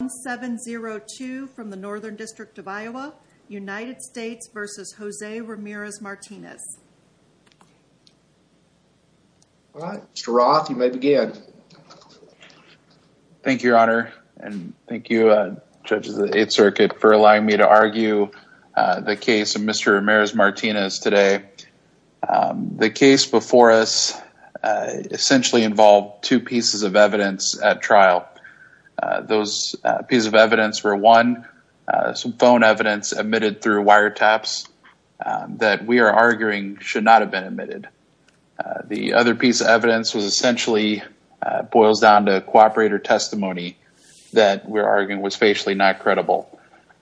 1702 from the Northern District of Iowa, United States versus Jose Ramirez-Martinez. All right Mr. Roth you may begin. Thank you your honor and thank you judges of the Eighth Circuit for allowing me to argue the case of Mr. Ramirez-Martinez today. The case before us essentially involved two pieces of evidence at trial. Those pieces of evidence were one some phone evidence admitted through wiretaps that we are arguing should not have been admitted. The other piece of evidence was essentially boils down to cooperator testimony that we're arguing was facially not credible.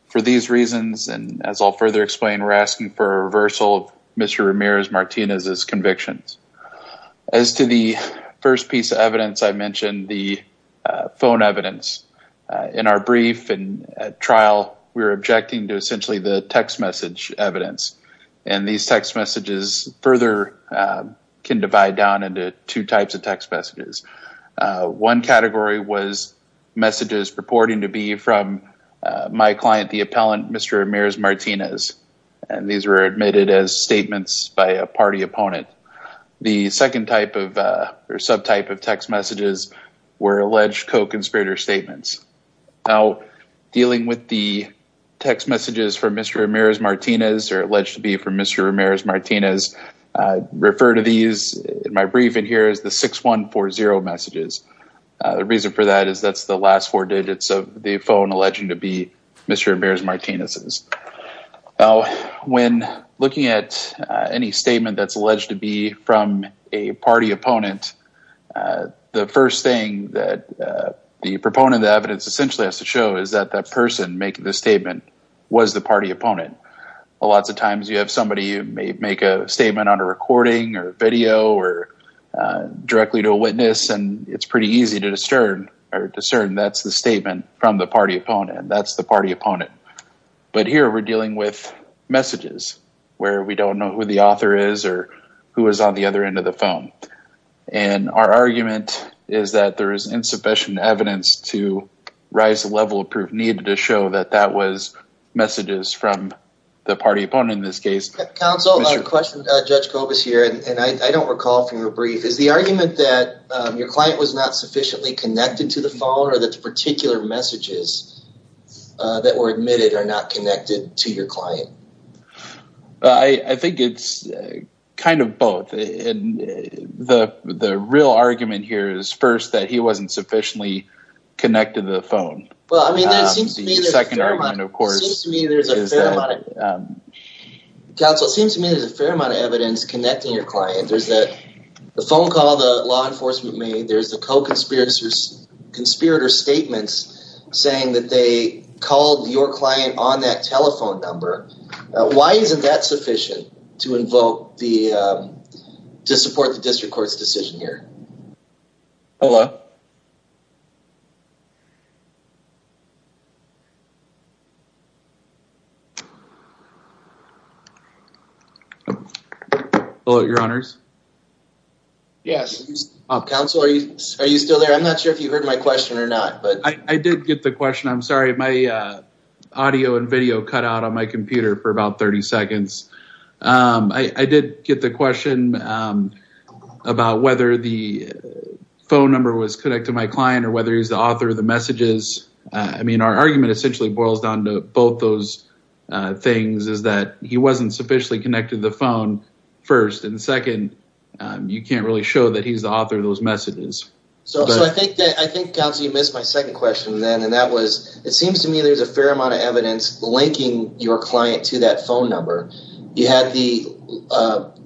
For these reasons and as I'll further explain we're asking for a reversal of Mr. Ramirez-Martinez's convictions. As to the first piece of evidence I mentioned the phone evidence in our brief and trial we were objecting to essentially the text message evidence and these text messages further can divide down into two types of text messages. One category was messages purporting to be from my client the appellant Mr. Ramirez-Martinez and these were admitted as statements by a party opponent. The second type of or subtype of text messages were alleged co-conspirator statements. Now dealing with the text messages from Mr. Ramirez-Martinez or alleged to be from Mr. Ramirez-Martinez refer to these in my brief and here is the 6140 messages. The reason for that is that's the last four digits of the phone alleging to be Mr. Ramirez-Martinez's. Now when looking at any statement that's alleged to be from a party opponent the first thing that the proponent of the evidence essentially has to show is that that person making the statement was the party opponent. Lots of times you have somebody you may make a statement on a recording or video or directly to a witness and it's pretty easy to that's the party opponent. But here we're dealing with messages where we don't know who the author is or who is on the other end of the phone and our argument is that there is insufficient evidence to rise the level of proof needed to show that that was messages from the party opponent in this case. Counsel I have a question to Judge Kobus here and I don't recall from your brief is the argument that your client was not sufficiently connected to the phone or that the particular messages that were admitted are not connected to your client? I think it's kind of both and the real argument here is first that he wasn't sufficiently connected to the phone. Well I mean that seems to me there's a fair amount of evidence connecting your client. There's that phone call the law enforcement made there's the co-conspirators conspirator statements saying that they called your client on that telephone number. Why isn't that sufficient to invoke the to support the district court's decision here? Hello. Hello your honors. Yes. Counsel are you still there? I'm not sure if you heard my question or not. I did get the question I'm sorry my audio and video cut out on my computer for about 30 seconds. I did get the question about whether the phone number was connected to my client or whether he's the author of the messages. I mean our argument essentially boils down to both those things is that he wasn't sufficiently connected to the phone first and second you can't really show that he's the author of those messages. So I think that I think counsel you missed my second question then and that was it seems to me there's a fair amount of evidence linking your client to that phone number. You had the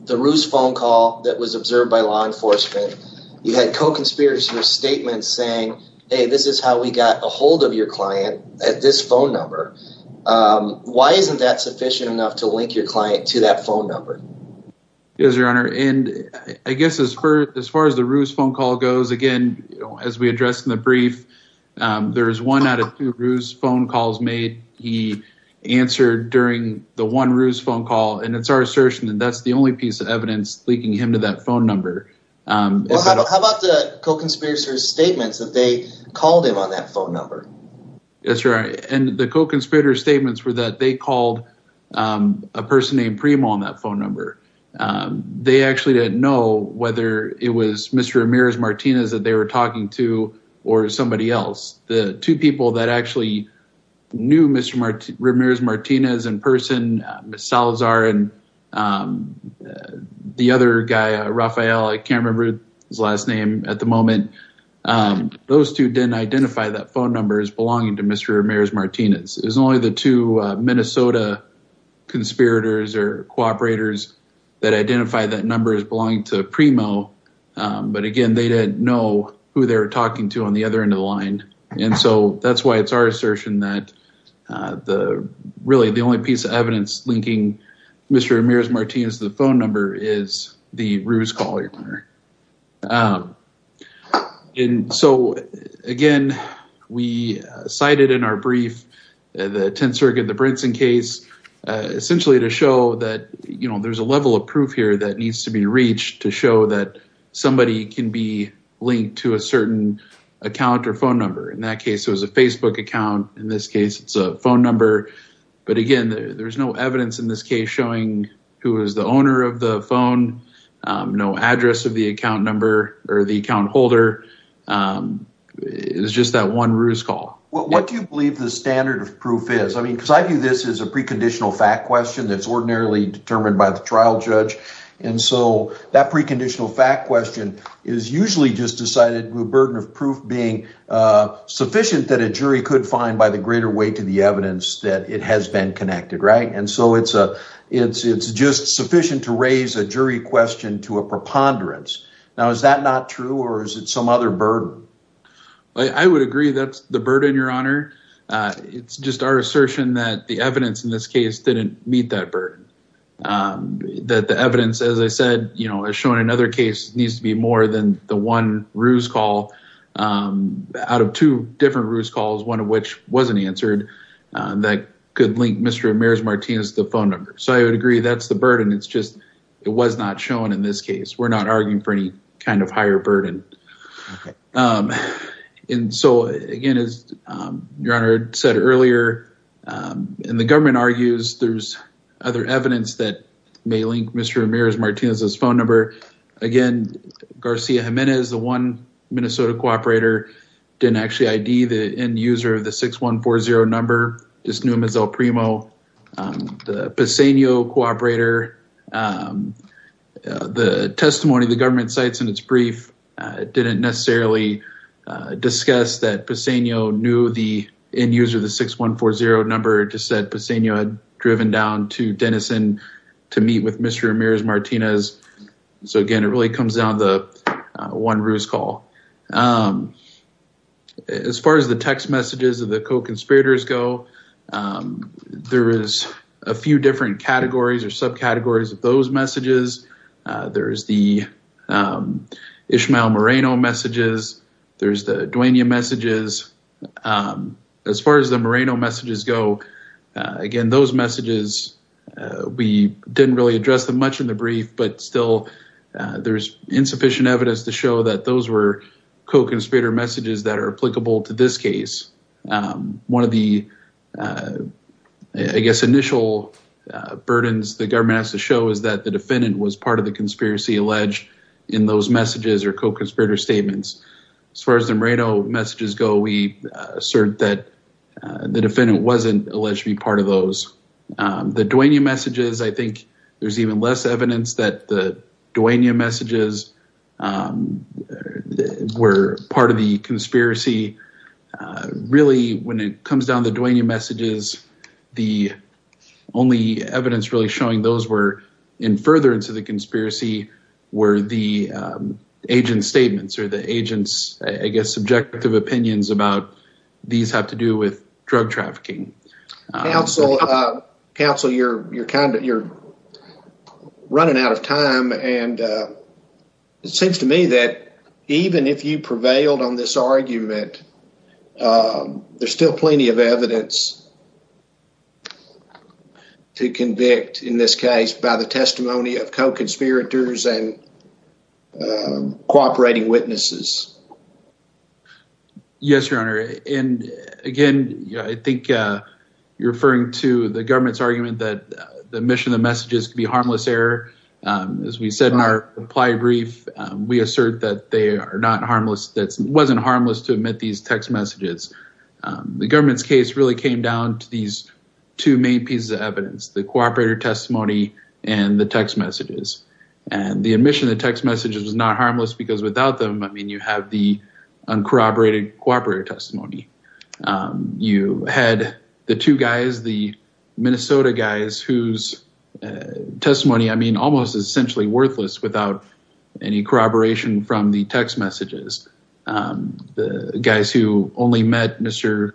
the ruse phone call that was observed by law enforcement. You had co-conspirators statements saying hey this is how we got a hold of your client at this phone number. Why isn't that sufficient enough to link your client to that phone number? Yes your honor and I guess as for as far as the ruse phone call goes again as we addressed in the brief there is one out of two phone calls made he answered during the one ruse phone call and it's our assertion that that's the only piece of evidence linking him to that phone number. How about the co-conspirators statements that they called him on that phone number? Yes your honor and the co-conspirators statements were that they called a person named Primo on that phone number. They actually didn't know whether it was Mr. Ramirez Martinez that they were talking to or somebody else. The two people that actually knew Mr. Ramirez Martinez in person Miss Salazar and the other guy Rafael I can't remember his last name at the moment. Those two didn't identify that phone number as belonging to Mr. Ramirez Martinez. It was only the two Minnesota conspirators or cooperators that identified that number as belonging to Primo but again they didn't know who they were talking to on the other end of the line and so that's why it's our assertion that the really the only piece of evidence linking Mr. Ramirez Martinez to the phone number is the ruse caller your honor. And so again we cited in our brief the tenth circuit the Brinson case essentially to show that you know there's a level of proof here that needs to be reached to show that somebody can be account or phone number. In that case it was a Facebook account. In this case it's a phone number but again there's no evidence in this case showing who is the owner of the phone. No address of the account number or the account holder. It was just that one ruse call. What do you believe the standard of proof is? I mean because I view this as a preconditional fact question that's ordinarily determined by the trial judge and so that preconditional fact question is usually just cited with burden of proof being sufficient that a jury could find by the greater weight to the evidence that it has been connected right and so it's just sufficient to raise a jury question to a preponderance. Now is that not true or is it some other burden? I would agree that's the burden your honor. It's just our assertion that the evidence in this case didn't meet that burden. That the evidence as I said you know as shown in another case needs to be more than the ruse call. Out of two different ruse calls one of which wasn't answered that could link Mr. Ramirez Martinez to the phone number. So I would agree that's the burden. It's just it was not shown in this case. We're not arguing for any kind of higher burden. And so again as your honor said earlier and the government argues there's other evidence that may link Mr. Ramirez Martinez's Garcia Jimenez. The one Minnesota cooperator didn't actually ID the end user of the 6140 number just knew him as El Primo. The Pisegno cooperator the testimony the government cites in its brief didn't necessarily discuss that Pisegno knew the end user of the 6140 number just said Pisegno had driven down to Denison to meet with Mr. Ramirez Martinez. So again it really comes down to the one ruse call. As far as the text messages of the co-conspirators go there is a few different categories or subcategories of those messages. There's the Ishmael Moreno messages. There's the Duena messages. As far as the Moreno messages go again those messages we didn't really address them much in the brief but still there's insufficient evidence to show that those were co-conspirator messages that are applicable to this case. One of the I guess initial burdens the government has to show is that the defendant was part of the conspiracy alleged in those messages or co-conspirator statements. As far as the Moreno messages go we assert that the defendant wasn't alleged to be part of those. The Duena messages I think there's even less evidence that the Duena messages were part of the conspiracy. Really when it comes down to the Duena messages the only evidence really showing those were in furtherance of the conspiracy were the agent's statements or the agent's I guess subjective opinions about these have to do with drug trafficking. Counsel, you're running out of time and it seems to me that even if you prevailed on this argument there's still plenty of evidence to convict in this case by the testimony of co-conspirators and cooperating witnesses. Yes your honor and again I think you're referring to the government's argument that the mission of the messages could be harmless error. As we said in our reply brief we assert that they are not harmless that wasn't harmless to admit these text messages. The government's case really came down to these two main pieces of evidence the cooperator testimony and the text messages and the admission the text messages was not harmless because without them I mean you have the uncorroborated cooperator testimony. You had the two guys the Minnesota guys whose testimony I mean almost is essentially worthless without any corroboration from the text messages. The guys who only met Mr.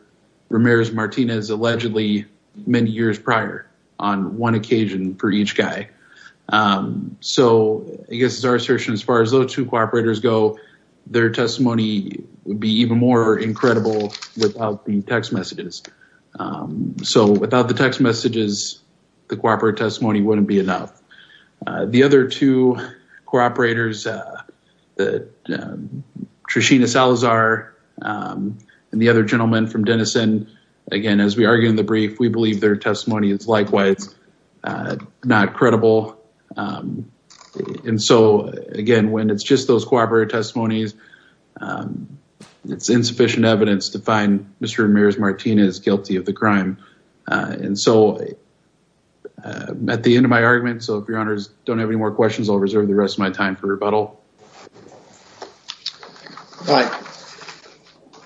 Ramirez Martinez allegedly many years prior on one occasion for each guy. So I guess it's our assertion as far as those cooperators go their testimony would be even more incredible without the text messages. So without the text messages the cooperative testimony wouldn't be enough. The other two cooperators that Trishina Salazar and the other gentleman from Denison again as we argue in the brief we believe their testimony is likewise not credible. And so again when it's just those cooperative testimonies it's insufficient evidence to find Mr. Ramirez Martinez guilty of the crime. And so at the end of my argument so if your honors don't have any more questions I'll reserve the rest of my time for rebuttal. All right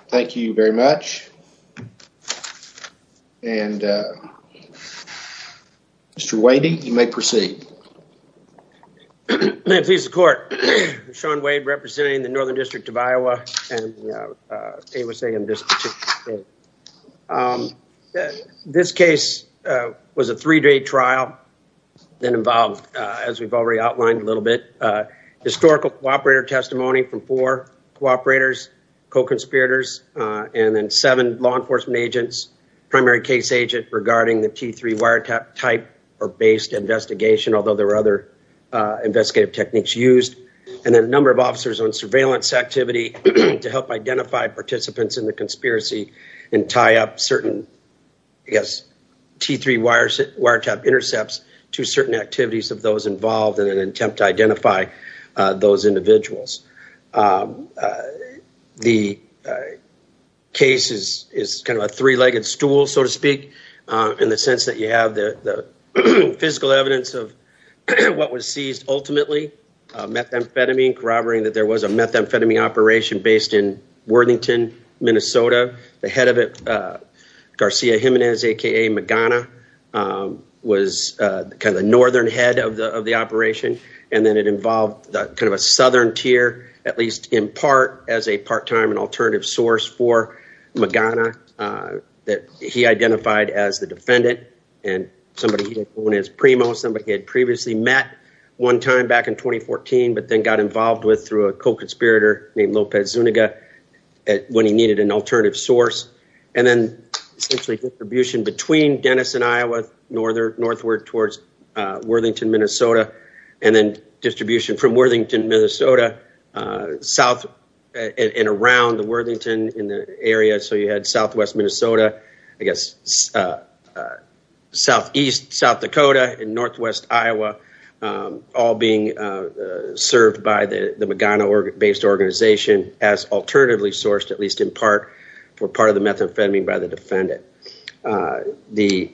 thank you very much. And Mr. Wadey you may proceed. May it please the court. Sean Wade representing the Northern District of Iowa and AYSA in this particular case. This case was a three-day trial that involved as we've already outlined a little bit historical cooperator testimony from four cooperators co-conspirators and then seven law enforcement agents primary case agent regarding the T3 wiretap type or based investigation although there were other investigative techniques used and then a number of officers on surveillance activity to help identify participants in the conspiracy and tie up certain I guess T3 wires wiretap intercepts to certain activities of those involved in an case is kind of a three-legged stool so to speak in the sense that you have the physical evidence of what was seized ultimately methamphetamine corroborating that there was a methamphetamine operation based in Worthington Minnesota the head of it Garcia Jimenez aka Magana was kind of the northern head of the of the operation and then it involved the kind of a source for Magana that he identified as the defendant and somebody he didn't want his primo somebody had previously met one time back in 2014 but then got involved with through a co-conspirator named Lopez Zuniga when he needed an alternative source and then essentially distribution between Dennis and Iowa northern northward towards Worthington Minnesota and then distribution from Worthington Minnesota south and around the Worthington in the area so you had southwest Minnesota I guess southeast South Dakota and northwest Iowa all being served by the Magana based organization as alternatively sourced at least in part for part of the methamphetamine by the defendant the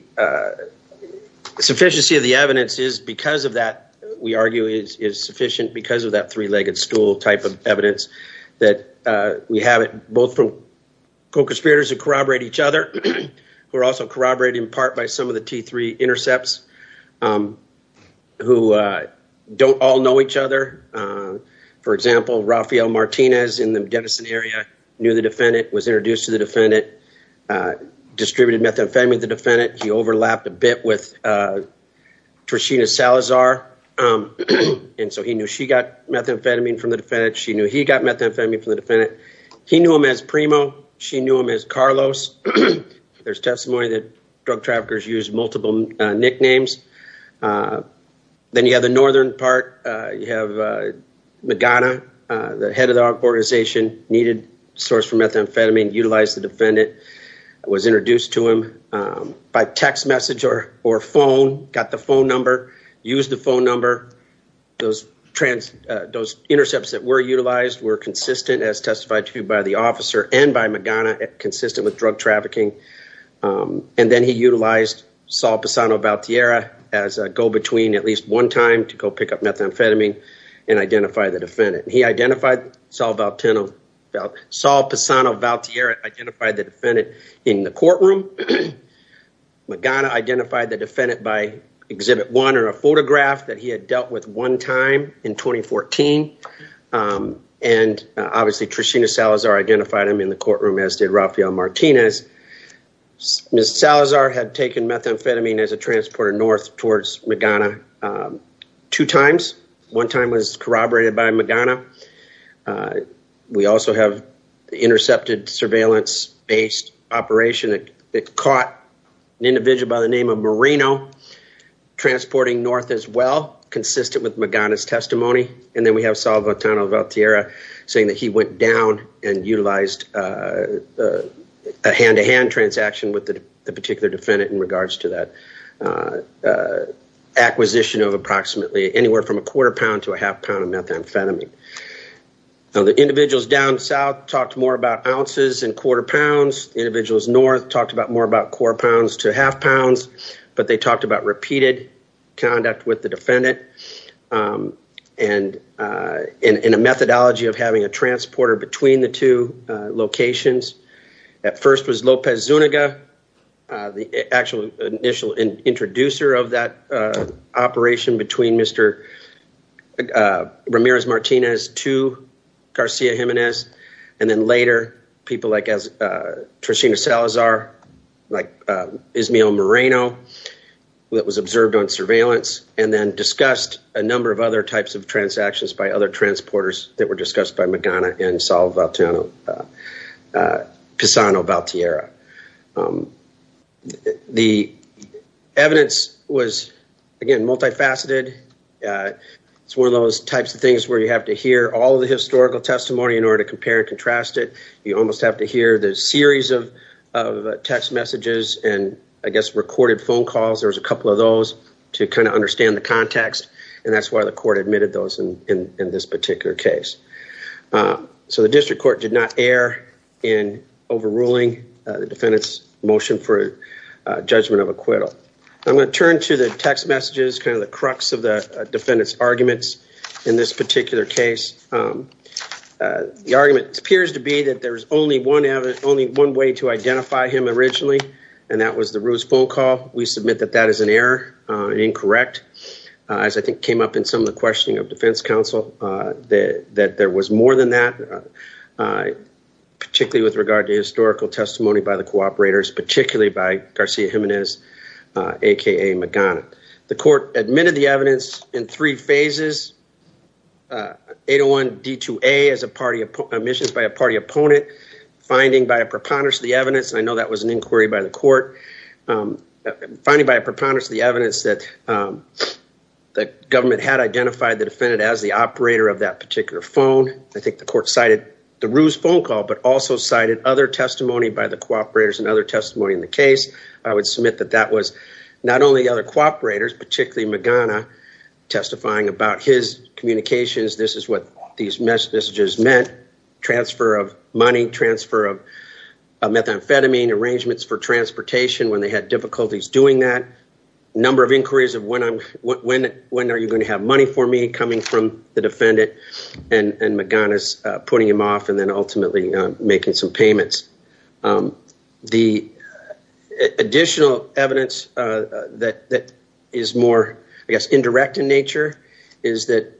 sufficiency of the evidence is because of that we argue is sufficient because of that three-legged stool type of evidence that we have it both from co-conspirators who corroborate each other who are also corroborated in part by some of the t3 intercepts who don't all know each other for example Rafael Martinez in the Denison area knew the defendant was introduced to the defendant distributed methamphetamine the defendant he overlapped a bit with Trishina Salazar and so he knew she got methamphetamine from the defendant she knew he got methamphetamine from the defendant he knew him as primo she knew him as Carlos there's testimony that drug traffickers use multiple nicknames then you have the northern part you have Magana the head of the organization needed source for methamphetamine utilized the defendant was introduced to him by text message or phone got the phone number used the phone number those trans those intercepts that were utilized were consistent as testified to by the officer and by Magana consistent with drug trafficking and then he utilized Saul Pisano Valtierra as a go-between at least one time to about Saul Pisano Valtierra identified the defendant in the courtroom Magana identified the defendant by exhibit one or a photograph that he had dealt with one time in 2014 and obviously Trishina Salazar identified him in the courtroom as did Rafael Martinez Ms. Salazar had taken methamphetamine as a transporter north towards Magana two times one time was corroborated by Magana we also have the intercepted surveillance based operation that caught an individual by the name of Marino transporting north as well consistent with Magana's testimony and then we have Saul Valtierra saying that he went down and utilized a hand-to-hand transaction with the particular defendant in regards to that uh acquisition of approximately anywhere from a quarter pound to a half pound of methamphetamine now the individuals down south talked more about ounces and quarter pounds individuals north talked about more about core pounds to half pounds but they talked about repeated conduct with the defendant um and uh in in a methodology of having a transporter between the two locations at first Lopez Zuniga the actual initial introducer of that operation between Mr. Ramirez Martinez to Garcia Jimenez and then later people like as Trishina Salazar like Ismael Marino that was observed on surveillance and then discussed a number of other types of transactions by other transporters that were discussed by Magana and Saul Valtierra. The evidence was again multifaceted uh it's one of those types of things where you have to hear all the historical testimony in order to compare and contrast it you almost have to hear the series of of text messages and I guess recorded phone calls there's a couple of those to kind of in this particular case. So the district court did not err in overruling the defendant's motion for judgment of acquittal. I'm going to turn to the text messages kind of the crux of the defendant's arguments in this particular case. The argument appears to be that there's only one evidence only one way to identify him originally and that was the Ruiz phone call we submit that as an error uh incorrect as I think came up in some of the questioning of defense council uh that that there was more than that uh particularly with regard to historical testimony by the cooperators particularly by Garcia Jimenez aka Magana. The court admitted the evidence in three phases 801 D2A as a party of omissions by a party opponent finding by a preponderance of the evidence that um that government had identified the defendant as the operator of that particular phone. I think the court cited the Ruiz phone call but also cited other testimony by the cooperators and other testimony in the case. I would submit that that was not only the other cooperators particularly Magana testifying about his communications this is what these messages meant transfer of money transfer of methamphetamine arrangements for transportation when they had difficulties doing that number of inquiries of when I'm when when are you going to have money for me coming from the defendant and and Magana's putting him off and then ultimately making some payments. The additional evidence uh that that is more I guess indirect in nature is that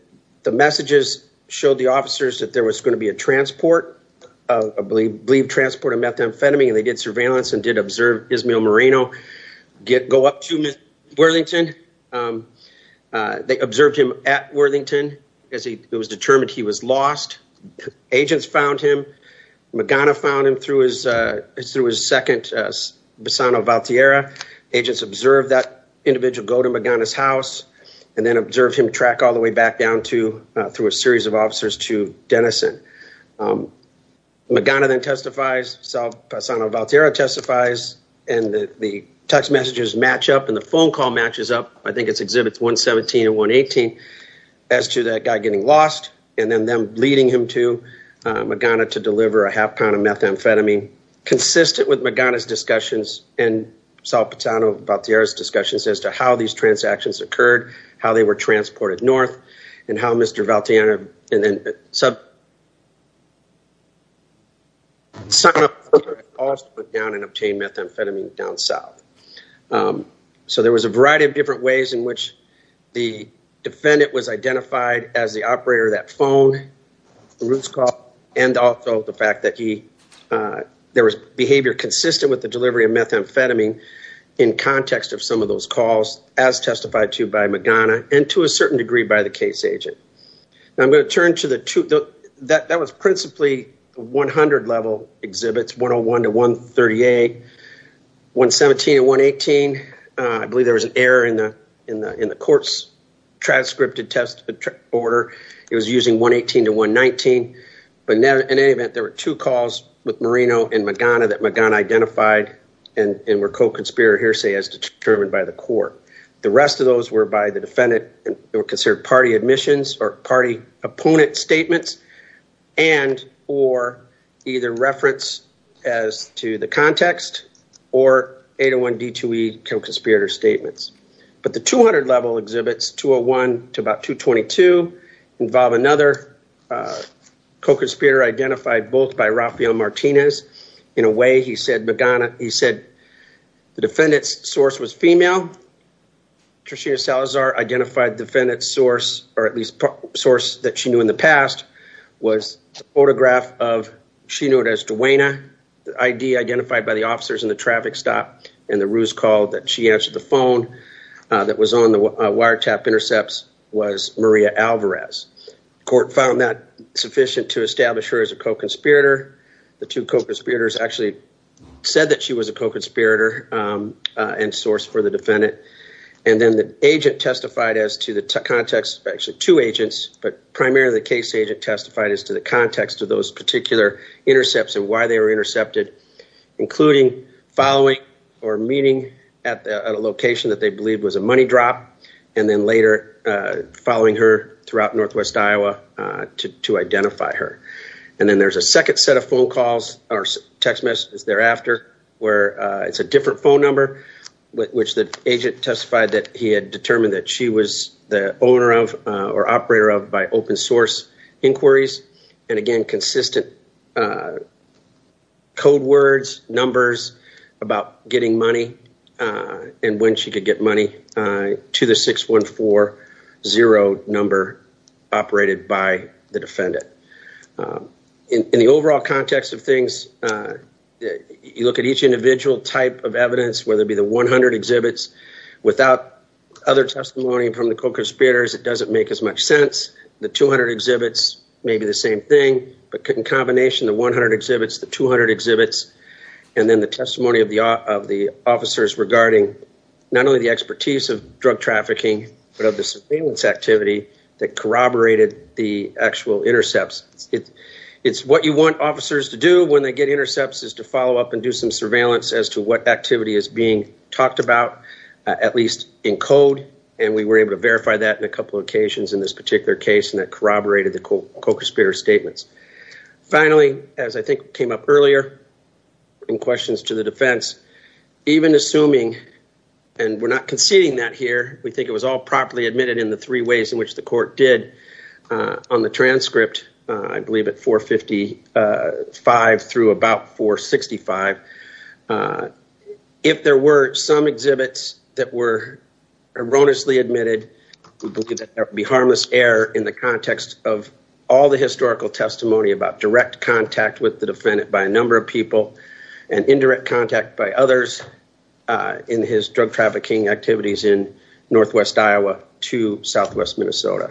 the messages showed the officers that there was going to be a transport of believe transport of methamphetamine and they did surveillance and did observe Ismael Moreno go up to Ms. Worthington. They observed him at Worthington as he it was determined he was lost. Agents found him Magana found him through his uh through his second uh Basano Valtierra. Agents observed that individual go to Magana's house and then observed him track all the way back down to through a series of officers to Denison. Magana then testifies so Basano Valtierra testifies and the the text messages match up and the phone call matches up. I think it's exhibits 117 and 118 as to that guy getting lost and then them leading him to Magana to deliver a half pound of methamphetamine consistent with Magana's discussions and Salvatano Valtierra's discussions as to how these transactions occurred, how they were transported north and how Mr. Valtierra and then sign up for calls to put down and obtain methamphetamine down south. So there was a variety of different ways in which the defendant was identified as the operator that phone the roots call and also the fact that he there was behavior consistent with the delivery of methamphetamine in context of some of those calls as testified to by Magana and to a certain degree by the case agent. Now I'm going to turn to the two that that was principally 100 level exhibits 101 to 138, 117 and 118. I believe there was an error in the in the in the court's transcripted test order it was using 118 to 119 but now in any event there were two calls with Marino and Magana that Magana identified and were co-conspirator hearsay as determined by the court. The rest of those were by the defendant and were considered party admissions or party opponent statements and or either reference as to the context or 801 D2E co-conspirator statements. But the 200 level exhibits 201 to about 222 involve another co-conspirator identified both by Rafael Martinez in a way he said Magana he said the defendant's source was female. Trishina Salazar identified defendant's source or at least source that she knew in the past was a photograph of she knew it as Duena the ID identified by the officers in the traffic stop and the ruse called that she answered the phone that was on the wiretap intercepts was Maria Alvarez. Court found that sufficient to establish her as a co-conspirator the two co-conspirators actually said that she was a co-conspirator and source for the defendant and then the agent testified as to the context actually two agents but primarily the case agent testified as to the context of those particular intercepts and why they were intercepted including following or meeting at a location that they believed was a money drop and then later following her throughout northwest Iowa to identify her. And then there's a second set of phone calls or text messages thereafter where it's a different phone number which the agent testified that he had determined that she was the owner of or operator of by open source inquiries and again consistent code words numbers about getting money and when she could get money to the 614 zero number operated by the defendant. In the overall context of things you look at each individual type of evidence whether it be the 100 exhibits without other testimony from the co-conspirators it doesn't make as much sense the 200 exhibits may be the same thing but in combination the 100 exhibits the 200 exhibits and then the testimony of the officers regarding not only the expertise of drug trafficking but of the surveillance activity that corroborated the actual intercepts. It's what you want officers to do when they get intercepts is to follow up and do some surveillance as to what activity is being talked about at least in code and we were able to verify that in a couple occasions in this particular case and that corroborated the statements. Finally as I think came up earlier in questions to the defense even assuming and we're not conceding that here we think it was all properly admitted in the three ways in which the court did on the transcript I believe at 455 through about 465 if there were some exhibits that were erroneously admitted we believe that there would be harmless error in the context of all the historical testimony about direct contact with the defendant by a number of people and indirect contact by others in his drug trafficking activities in northwest Iowa to southwest Minnesota.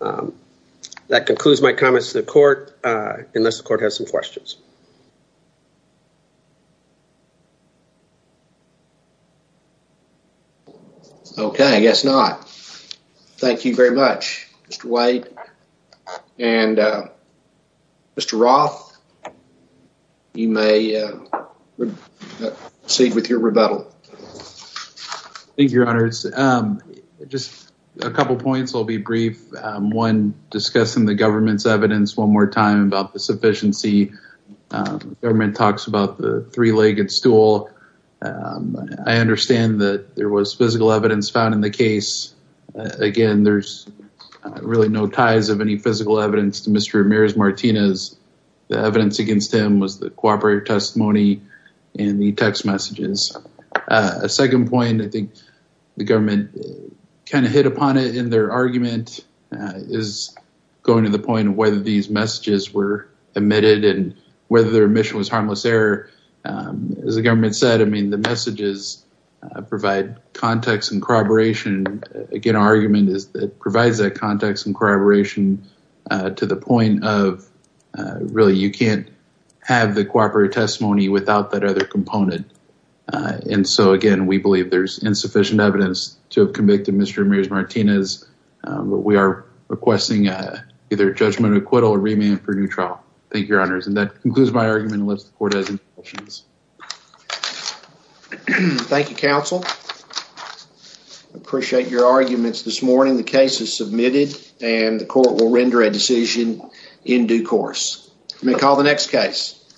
That concludes my comments to the court unless the court has some questions. Okay I guess not. Thank you very much Mr. White and Mr. Roth you may proceed with your rebuttal. Thank you your honors. Just a couple points I'll be brief. One discussing the government's evidence one more time about the sufficiency. The government talks about the three-legged stool. I understand that there was physical evidence found in the case. Again there's really no ties of any physical evidence to Mr. Ramirez Martinez. The evidence against him was the cooperative testimony and the text messages. A second point I think the government kind of hit upon it in their argument is going to the point of whether these messages were admitted and whether their the messages provide context and corroboration. Again our argument is that provides that context and corroboration to the point of really you can't have the cooperative testimony without that other component and so again we believe there's insufficient evidence to have convicted Mr. Ramirez Martinez but we are requesting either judgment acquittal or remand for new trial. Thank you counsel. I appreciate your arguments this morning. The case is submitted and the court will render a decision in due course. You may call the next case.